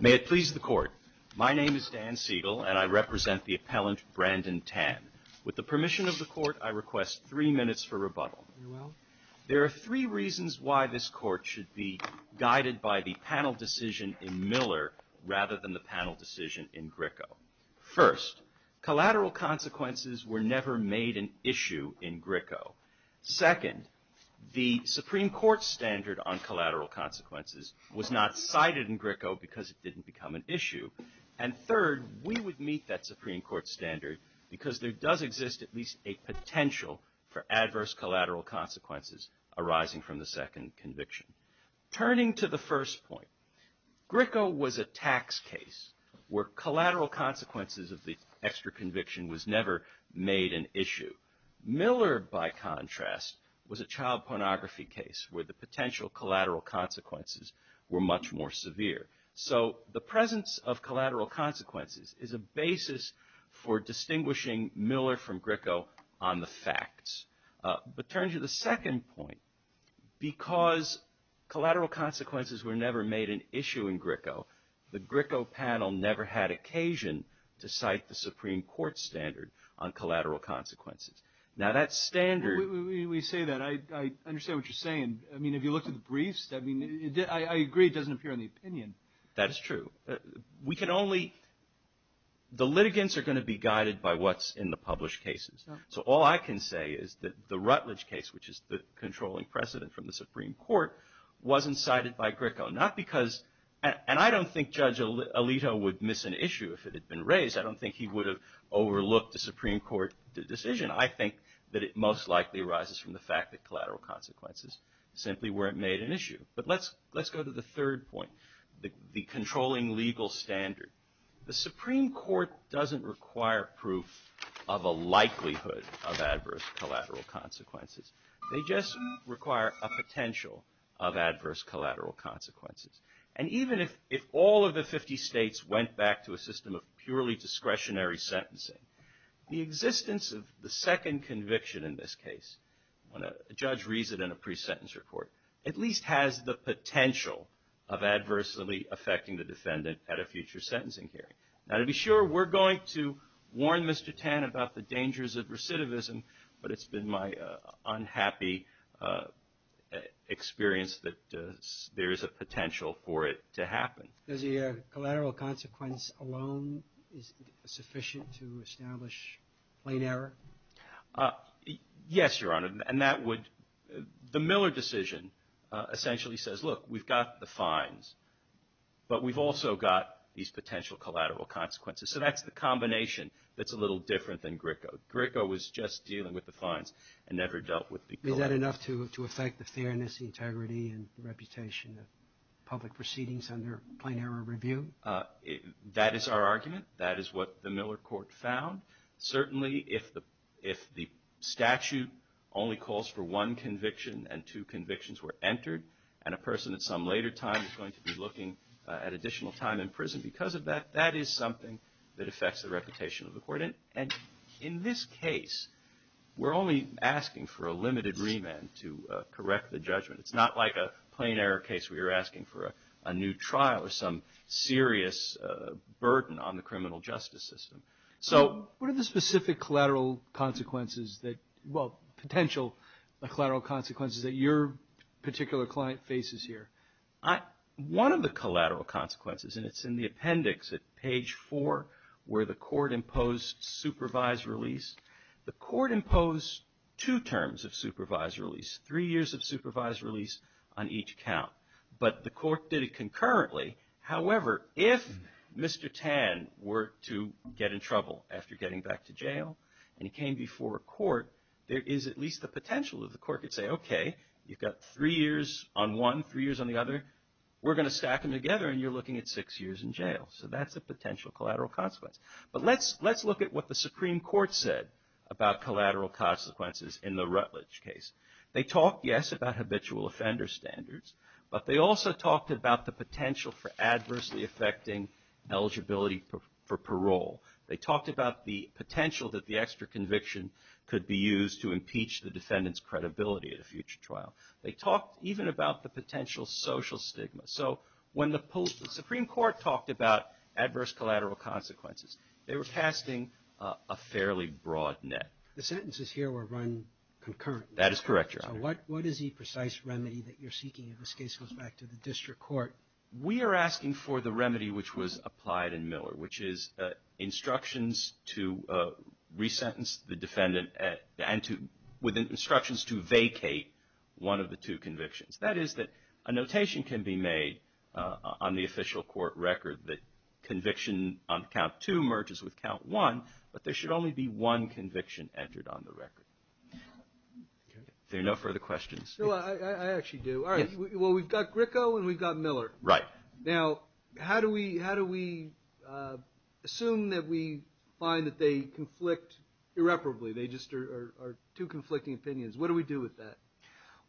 May it please the court, my name is Dan Siegel and I represent the appellant Brandon Tann. With the permission of the court I request three minutes for rebuttal. There are three reasons why this court should be guided by the panel decision in Miller rather than the panel decision in Gricko. First, collateral consequences were never made an issue in Gricko. Second, the Supreme Court standard on collateral consequences was not cited in Gricko because it didn't become an issue. And third, we would meet that Supreme Court standard because there does exist at least a potential for adverse collateral consequences arising from the second conviction. Turning to the first point, Gricko was a tax case where collateral consequences of the extra conviction was never made an issue. Miller, by contrast, was a child pornography case where the potential collateral consequences were much more severe. So the presence of collateral consequences is a basis for distinguishing Miller from Gricko on the facts. But turning to the second point, because collateral consequences were never made an issue in Gricko, the Gricko panel never had occasion to cite the Supreme Court standard on collateral consequences. Now that standard... We say that. I understand what you're saying. I mean, if you look at the briefs, I mean, I agree it doesn't appear in the opinion. That is true. We can only... the litigants are going to be guided by what's in the published cases. So all I can say is that the Rutledge case, which is the controlling precedent from the Supreme Court, wasn't cited by Gricko. Not because... and I don't think Judge Alito would miss an issue if it had been raised. I don't think he would have overlooked the Supreme Court decision. And I think that it most likely arises from the fact that collateral consequences simply weren't made an issue. But let's go to the third point, the controlling legal standard. The Supreme Court doesn't require proof of a likelihood of adverse collateral consequences. They just require a potential of adverse collateral consequences. And even if all of the 50 states went back to a system of purely discretionary sentencing, the existence of the second conviction in this case, when a judge reads it in a pre-sentence report, at least has the potential of adversely affecting the defendant at a future sentencing hearing. Now, to be sure, we're going to warn Mr. Tan about the dangers of recidivism, but it's been my unhappy experience that there is a potential for it to happen. Does the collateral consequence alone is sufficient to establish plain error? Yes, Your Honor, and that would... the Miller decision essentially says, look, we've got the fines, but we've also got these potential collateral consequences. So that's the combination that's a little different than Gricko. Gricko was just dealing with the fines and never dealt with the collateral. Is that enough to affect the fairness, the integrity, and the reputation of public proceedings under plain error review? That is our argument. That is what the Miller court found. Certainly, if the statute only calls for one conviction and two convictions were entered, and a person at some later time is going to be looking at additional time in prison because of that, that is something that affects the reputation of the court. And in this case, we're only asking for a limited remand to correct the judgment. It's not like a plain error case where you're asking for a new trial or some serious burden on the criminal justice system. So... What are the specific collateral consequences that... well, potential collateral consequences that your particular client faces here? One of the collateral consequences, and it's in the appendix at page four, where the court imposed supervised release. The court imposed two terms of supervised release. Three years of supervised release on each count. But the court did it concurrently. However, if Mr. Tan were to get in trouble after getting back to jail and he came before a court, there is at least the potential that the court could say, okay, you've got three years on one, three years on the other. We're going to stack them together and you're looking at six years in jail. So that's a potential collateral consequence. But let's look at what the Supreme Court said about collateral consequences in the Rutledge case. They talked, yes, about habitual offender standards, but they also talked about the potential for adversely affecting eligibility for parole. They talked about the potential that the extra conviction could be used to impeach the defendant's credibility at a future trial. They talked even about the potential social stigma. So when the Supreme Court talked about adverse collateral consequences, they were casting a fairly broad net. The sentences here were run concurrently. That is correct, Your Honor. So what is the precise remedy that you're seeking if this case goes back to the district court? We are asking for the remedy which was applied in Miller, which is instructions to resentence the defendant and to, with instructions to vacate one of the two convictions. That is that a notation can be made on the official court record that conviction on count two merges with count one, but there should only be one conviction entered on the record. There are no further questions. No, I actually do. All right. Well, we've got Gricko and we've got Miller. Right. Now, how do we assume that we find that they conflict irreparably? They just are two conflicting opinions. What do we do with that?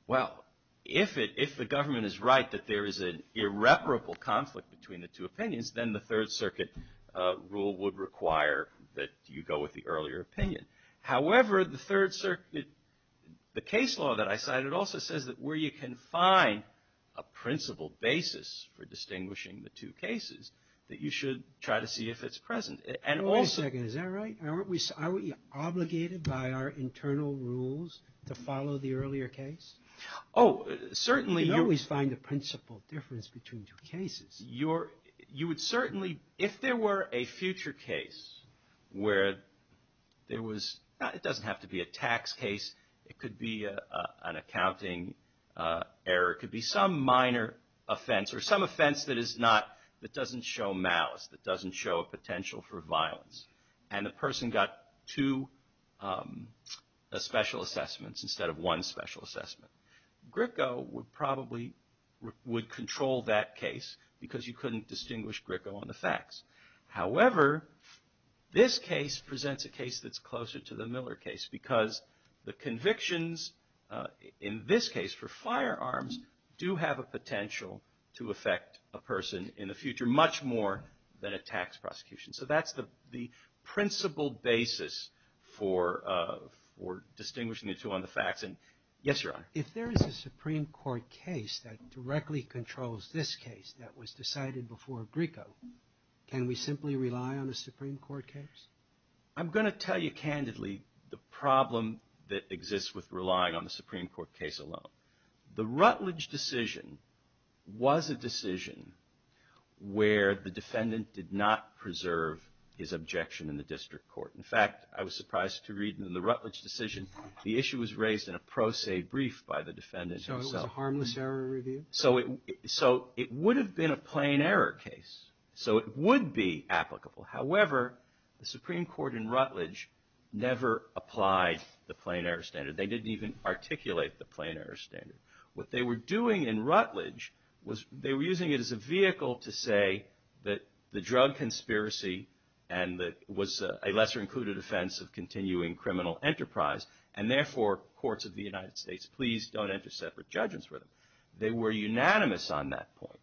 Well, if the government is right that there is an irreparable conflict between the two opinions, then the Third Circuit rule would require that you go with the earlier opinion. However, the Third Circuit, the case law that I cited also says that where you can find a principle basis for distinguishing the two cases, that you should try to see if it's present. Wait a second. Is that right? Aren't we obligated by our internal rules to follow the earlier case? Oh, certainly. You always find a principle difference between two cases. You would certainly, if there were a future case where it doesn't have to be a tax case. It could be an accounting error. It could be some minor offense or some offense that doesn't show malice, that doesn't show a potential for violence. And the person got two special assessments instead of one special assessment. Gricko would probably control that case because you couldn't distinguish Gricko on the facts. However, this case presents a case that's closer to the Miller case because the convictions in this case for firearms do have a potential to affect a person in the future much more than a tax prosecution. So that's the principle basis for distinguishing the two on the facts. And yes, Your Honor. If there is a Supreme Court case that directly controls this case that was decided before Gricko, can we simply rely on a Supreme Court case? I'm going to tell you candidly the problem that exists with relying on the Supreme Court case alone. The Rutledge decision was a decision where the defendant did not preserve his objection in the district court. In fact, I was surprised to read in the Rutledge decision the issue was raised in a pro se brief by the defendant himself. So it was a harmless error review? So it would have been a plain error case. So it would be applicable. However, the Supreme Court in Rutledge never applied the plain error standard. They didn't even articulate the plain error standard. What they were doing in Rutledge was they were using it as a vehicle to say that the drug conspiracy and that was a lesser included offense of continuing criminal enterprise and therefore courts of the United States, please don't enter separate judgments for them. They were unanimous on that point.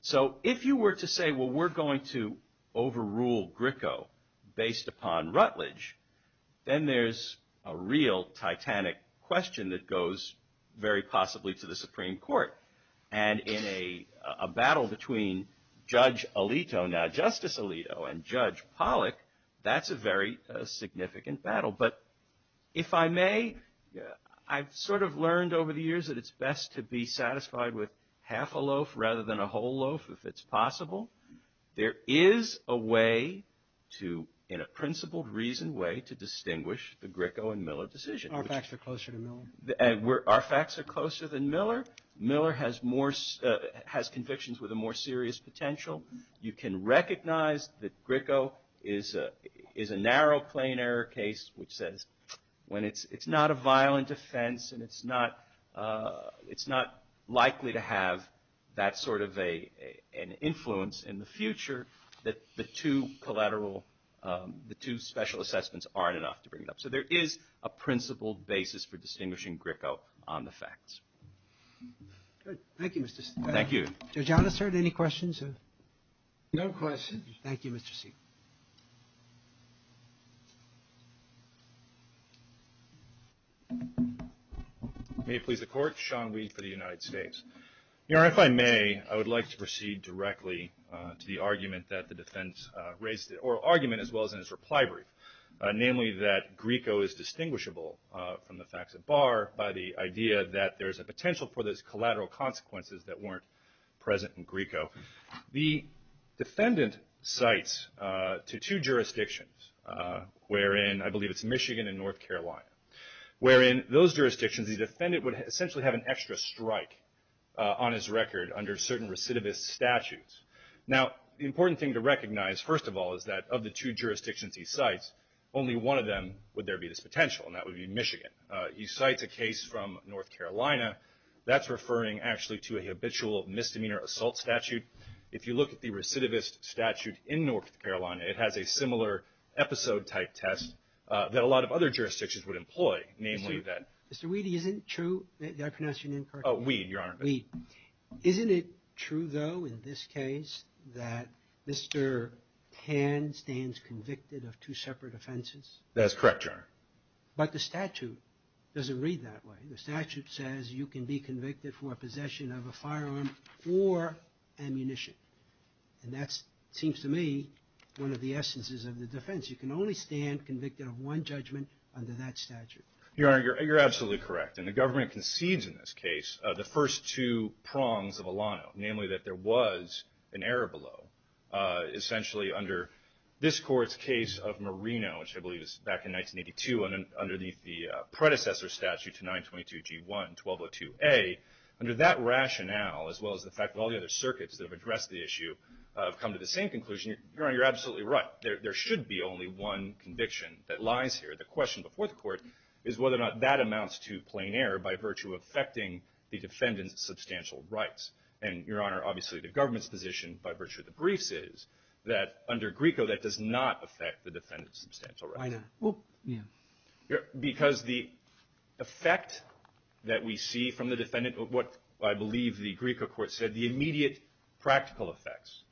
So if you were to say, well, we're going to overrule Gricko based upon Rutledge, then there's a real titanic question that goes very possibly to the Supreme Court. And in a battle between Judge Alito, now Justice Alito, and Judge Pollack, that's a very significant battle. But if I may, I've sort of learned over the years that it's best to be satisfied with half a loaf rather than a whole loaf if it's possible. There is a way to, in a principled reason way, to distinguish the Gricko and Miller decision. Our facts are closer to Miller. Our facts are closer than Miller. Miller has convictions with a more serious potential. You can recognize that Gricko is a narrow plain error case which says when it's not a violent offense and it's not likely to have that sort of an influence in the future that the two collateral, the two special assessments aren't enough to bring it up. So there is a principled basis for distinguishing Gricko on the facts. Roberts. Good. Thank you, Mr. Siegel. Thank you. Judge Allister, any questions? No questions. Thank you, Mr. Siegel. May it please the Court. Sean Wee for the United States. If I may, I would like to proceed directly to the argument that the defense raised, or argument as well as in his reply brief, namely that Gricko is distinguishable from the facts at bar by the idea that there's a potential for those collateral consequences that weren't present in Gricko. The defendant cites to two jurisdictions wherein, I believe it's Michigan and North Carolina, wherein those jurisdictions the defendant would essentially have an extra strike on his record under certain recidivist statutes. Now, the important thing to recognize, first of all, is that of the two jurisdictions he cites, only one of them would there be this potential, and that would be Michigan. He cites a case from North Carolina. That's referring actually to a habitual misdemeanor assault statute. If you look at the recidivist statute in North Carolina, it has a similar episode-type test that a lot of other jurisdictions would employ, namely that- Mr. Weedy, isn't it true, did I pronounce your name correctly? Oh, Weed, Your Honor. Weed. Isn't it true, though, in this case, that Mr. Pan stands convicted of two separate offenses? That's correct, Your Honor. But the statute doesn't read that way. The statute says you can be convicted for possession of a firearm or ammunition, and that seems to me one of the essences of the defense. You can only stand convicted of one judgment under that statute. Your Honor, you're absolutely correct. And the government concedes in this case the first two prongs of Alano, namely that there was an error below. Essentially, under this court's case of Marino, which I believe is back in 1982, underneath the predecessor statute to 922G1-1202A, under that rationale, as well as the fact that all the other circuits that have addressed the issue have come to the same conclusion, Your Honor, you're absolutely right. There should be only one conviction that lies here. The question before the court is whether or not that amounts to plain error by virtue of affecting the defendant's substantial rights. And, Your Honor, obviously the government's position, by virtue of the briefs, is that under Grieco, that does not affect the defendant's substantial rights. Why not? Well, yeah. Because the effect that we see from the defendant, what I believe the Grieco court said, the immediate practical effects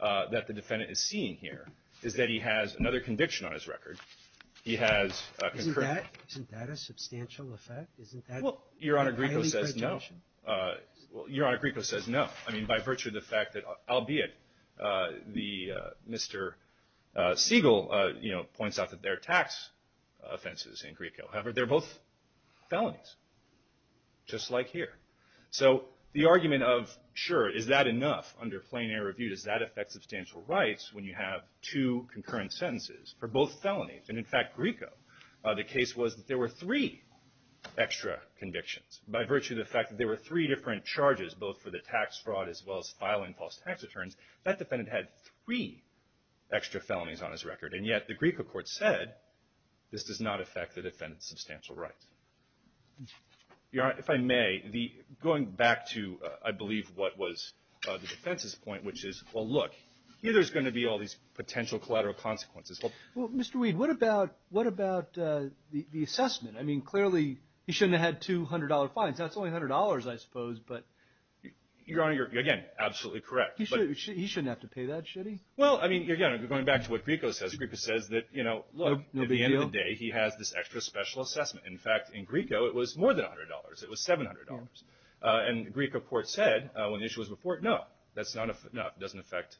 that the defendant is seeing here is that he has another conviction on his record. He has... Isn't that a substantial effect? Well, Your Honor, Grieco says no. Your Honor, Grieco says no. I mean, by virtue of the fact that, albeit Mr. Siegel, you know, points out that there are tax offenses in Grieco. However, they're both felonies, just like here. So the argument of, sure, is that enough? Under plain error review, does that affect substantial rights when you have two concurrent sentences for both felonies? And, in fact, Grieco, the case was that there were three extra convictions. By virtue of the fact that there were three different charges, both for the tax fraud as well as filing false tax returns, that defendant had three extra felonies on his record. And yet, the Grieco court said, this does not affect the defendant's substantial rights. Your Honor, if I may, going back to, I believe, what was the defense's point, which is, well, look, here there's going to be all these potential collateral consequences. Well, Mr. Weed, what about the assessment? I mean, clearly, he shouldn't have had $200 fines. That's only $100, I suppose. But, Your Honor, you're, again, absolutely correct. He shouldn't have to pay that, should he? Well, I mean, again, going back to what Grieco says, Grieco says that, you know, at the end of the day, he has this extra special assessment. In fact, in Grieco, it was more than $100. It was $700. And the Grieco court said, when the issue was before it, that's not enough. Doesn't affect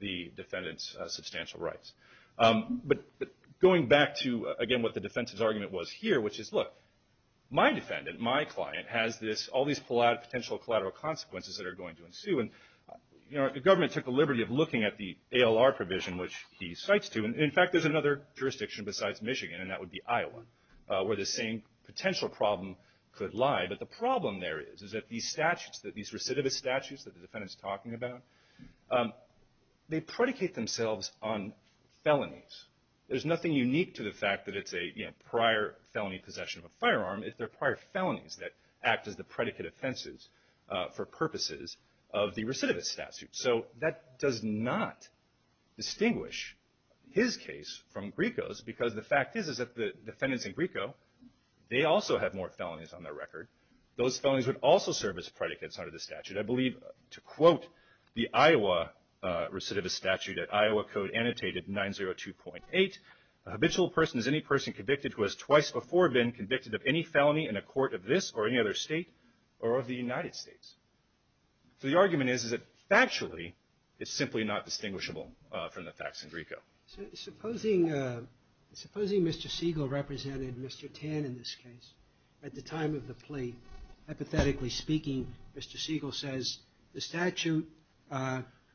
the defendant's substantial rights. But going back to, again, what the defense's argument was here, which is, look, my defendant, my client, has all these potential collateral consequences that are going to ensue. And, Your Honor, the government took the liberty of looking at the ALR provision, which he cites to. And, in fact, there's another jurisdiction besides Michigan, and that would be Iowa, where the same potential problem could lie. But the problem there is, is that these statutes, that these recidivist statutes that the defendant's talking about, they predicate themselves on felonies. There's nothing unique to the fact that it's a, you know, prior felony possession of a firearm. It's their prior felonies that act as the predicate offenses for purposes of the recidivist statute. So that does not distinguish his case from Grieco's, because the fact is, is that the defendants in Grieco, they also have more felonies on their record. Those felonies would also serve as predicates under the statute. I believe, to quote the Iowa recidivist statute at Iowa code annotated 902.8, a habitual person is any person convicted who has twice before been convicted of any felony in a court of this or any other state or of the United States. So the argument is, is that factually, it's simply not distinguishable from the facts in Grieco. So supposing, supposing Mr. Siegel represented Mr. Tan in this case at the time of the plea. Hypothetically speaking, Mr. Siegel says, the statute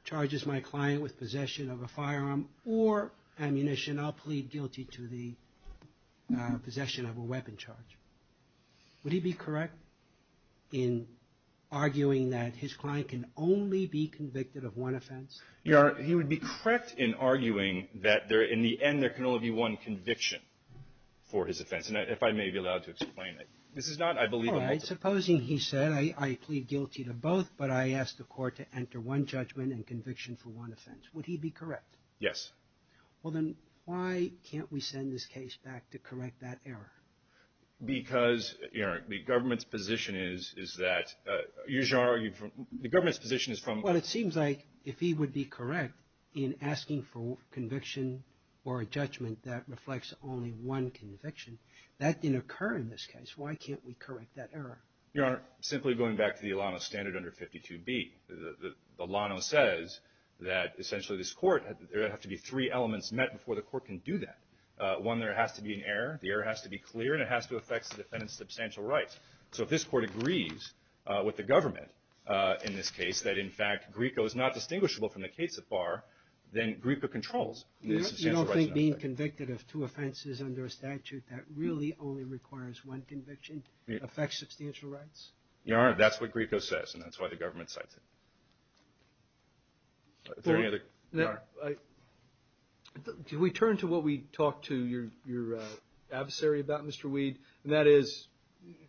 charges my client with possession of a firearm or ammunition. I'll plead guilty to the possession of a weapon charge. Would he be correct in arguing that his client can only be convicted of one offense? Yeah, he would be correct in arguing that there, in the end, there can only be one conviction for his offense. If I may be allowed to explain it. This is not, I believe. All right, supposing he said, I plead guilty to both, but I asked the court to enter one judgment and conviction for one offense. Would he be correct? Yes. Well, then why can't we send this case back to correct that error? Because, you know, the government's position is, is that you should argue from, the government's position is from. Well, it seems like if he would be correct in asking for conviction or a judgment that reflects only one conviction, that didn't occur in this case. Why can't we correct that error? Your Honor, simply going back to the Alano standard under 52B. Alano says that essentially this court, there have to be three elements met before the court can do that. One, there has to be an error. The error has to be clear and it has to affect the defendant's substantial rights. So if this court agrees with the government in this case, that in fact, Grieco is not distinguishable from the case so far, then Grieco controls the substantial rights. Being convicted of two offenses under a statute that really only requires one conviction affects substantial rights? Your Honor, that's what Grieco says and that's why the government cites it. Can we turn to what we talked to your adversary about, Mr. Weed? And that is,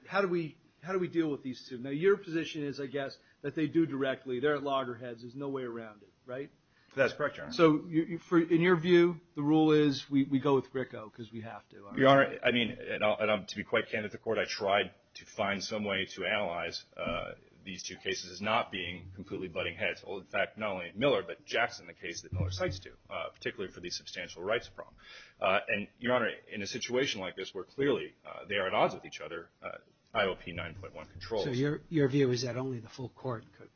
how do we deal with these two? Now, your position is, I guess, that they do directly. They're at loggerheads. There's no way around it, right? That's correct, Your Honor. In your view, the rule is, we go with Grieco because we have to, aren't we? Your Honor, I mean, and I'm to be quite candid at the court, I tried to find some way to analyze these two cases as not being completely butting heads. Well, in fact, not only Miller, but Jackson, the case that Miller cites too, particularly for the substantial rights problem. And, Your Honor, in a situation like this where clearly they are at odds with each other, IOP 9.1 controls. So your view is that only the full court could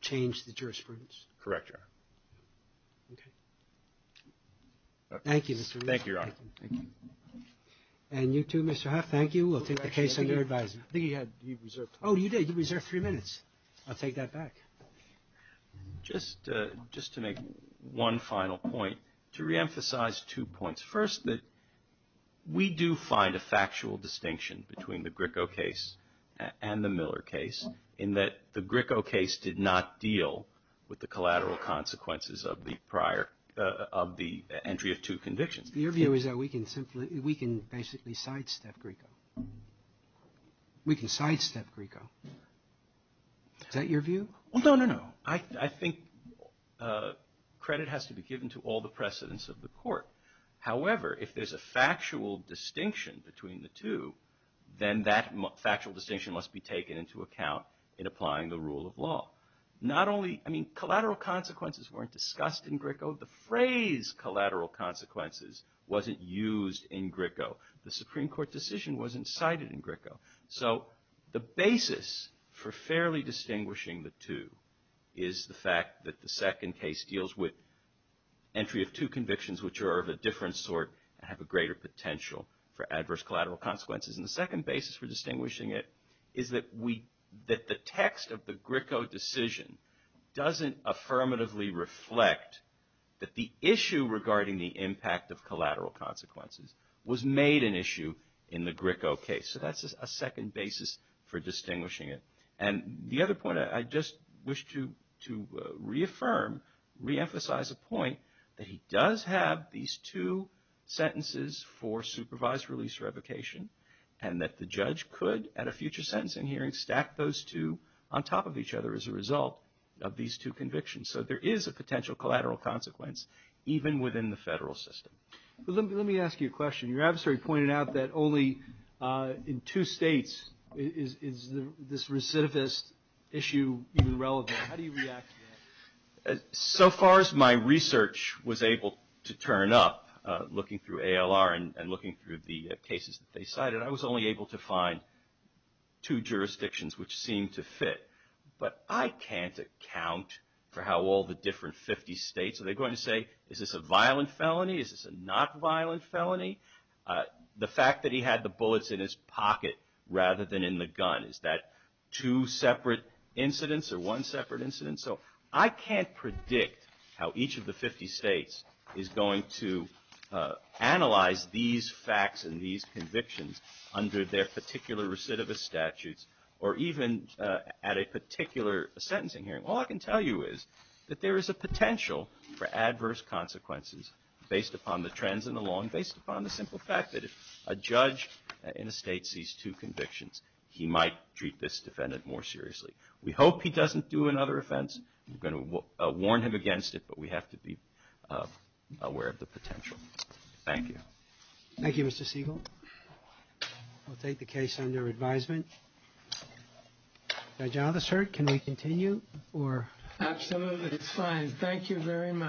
change the jurisprudence? Correct, Your Honor. Okay. Thank you, Mr. Reardon. Thank you, Your Honor. Thank you. And you too, Mr. Huff. Thank you. We'll take the case under advisory. I think he had, he reserved three minutes. Oh, you did. He reserved three minutes. I'll take that back. Just to make one final point, to reemphasize two points. First, that we do find a factual distinction between the Grieco case and the Miller case in that the Grieco case did not deal with the collateral consequences of the prior, of the entry of two convictions. Your view is that we can simply, we can basically sidestep Grieco. We can sidestep Grieco. Is that your view? Well, no, no, no. I think credit has to be given to all the precedents of the court. However, if there's a factual distinction between the two, then that factual distinction must be taken into account in applying the rule of law. Not only, I mean, collateral consequences weren't discussed in Grieco. The phrase collateral consequences wasn't used in Grieco. The Supreme Court decision wasn't cited in Grieco. So the basis for fairly distinguishing the two is the fact that the second case deals with entry of two convictions, which are of a different sort and have a greater potential for adverse collateral consequences. And the second basis for distinguishing it is that the text of the Grieco decision doesn't affirmatively reflect that the issue regarding the impact of collateral consequences was made an issue in the Grieco case. So that's a second basis for distinguishing it. And the other point I just wish to reaffirm, reemphasize a point that he does have these two sentences for supervised release revocation and that the judge could at a future sentencing hearing stack those two on top of each other as a result of these two convictions. So there is a potential collateral consequence even within the federal system. But let me ask you a question. Your adversary pointed out that only in two states is this recidivist issue even relevant. How do you react to that? So far as my research was able to turn up looking through ALR and looking through the cases that they cited, I was only able to find two jurisdictions which seemed to fit. But I can't account for how all the different 50 states are they going to say, is this a violent felony? Is this a not violent felony? The fact that he had the bullets in his pocket rather than in the gun, is that two separate incidents or one separate incident? So I can't predict how each of the 50 states is going to analyze these facts and these convictions under their particular recidivist statutes or even at a particular sentencing hearing. All I can tell you is that there is a potential for adverse consequences based upon the trends in the law and based upon the simple fact that if a judge in a state sees two convictions, he might treat this defendant more seriously. We hope he doesn't do another offense. We're going to warn him against it, but we have to be aware of the potential. Thank you. Thank you, Mr. Siegel. I'll take the case under advisement. Judge Althusser, can we continue? Absolutely, it's fine. Thank you very much.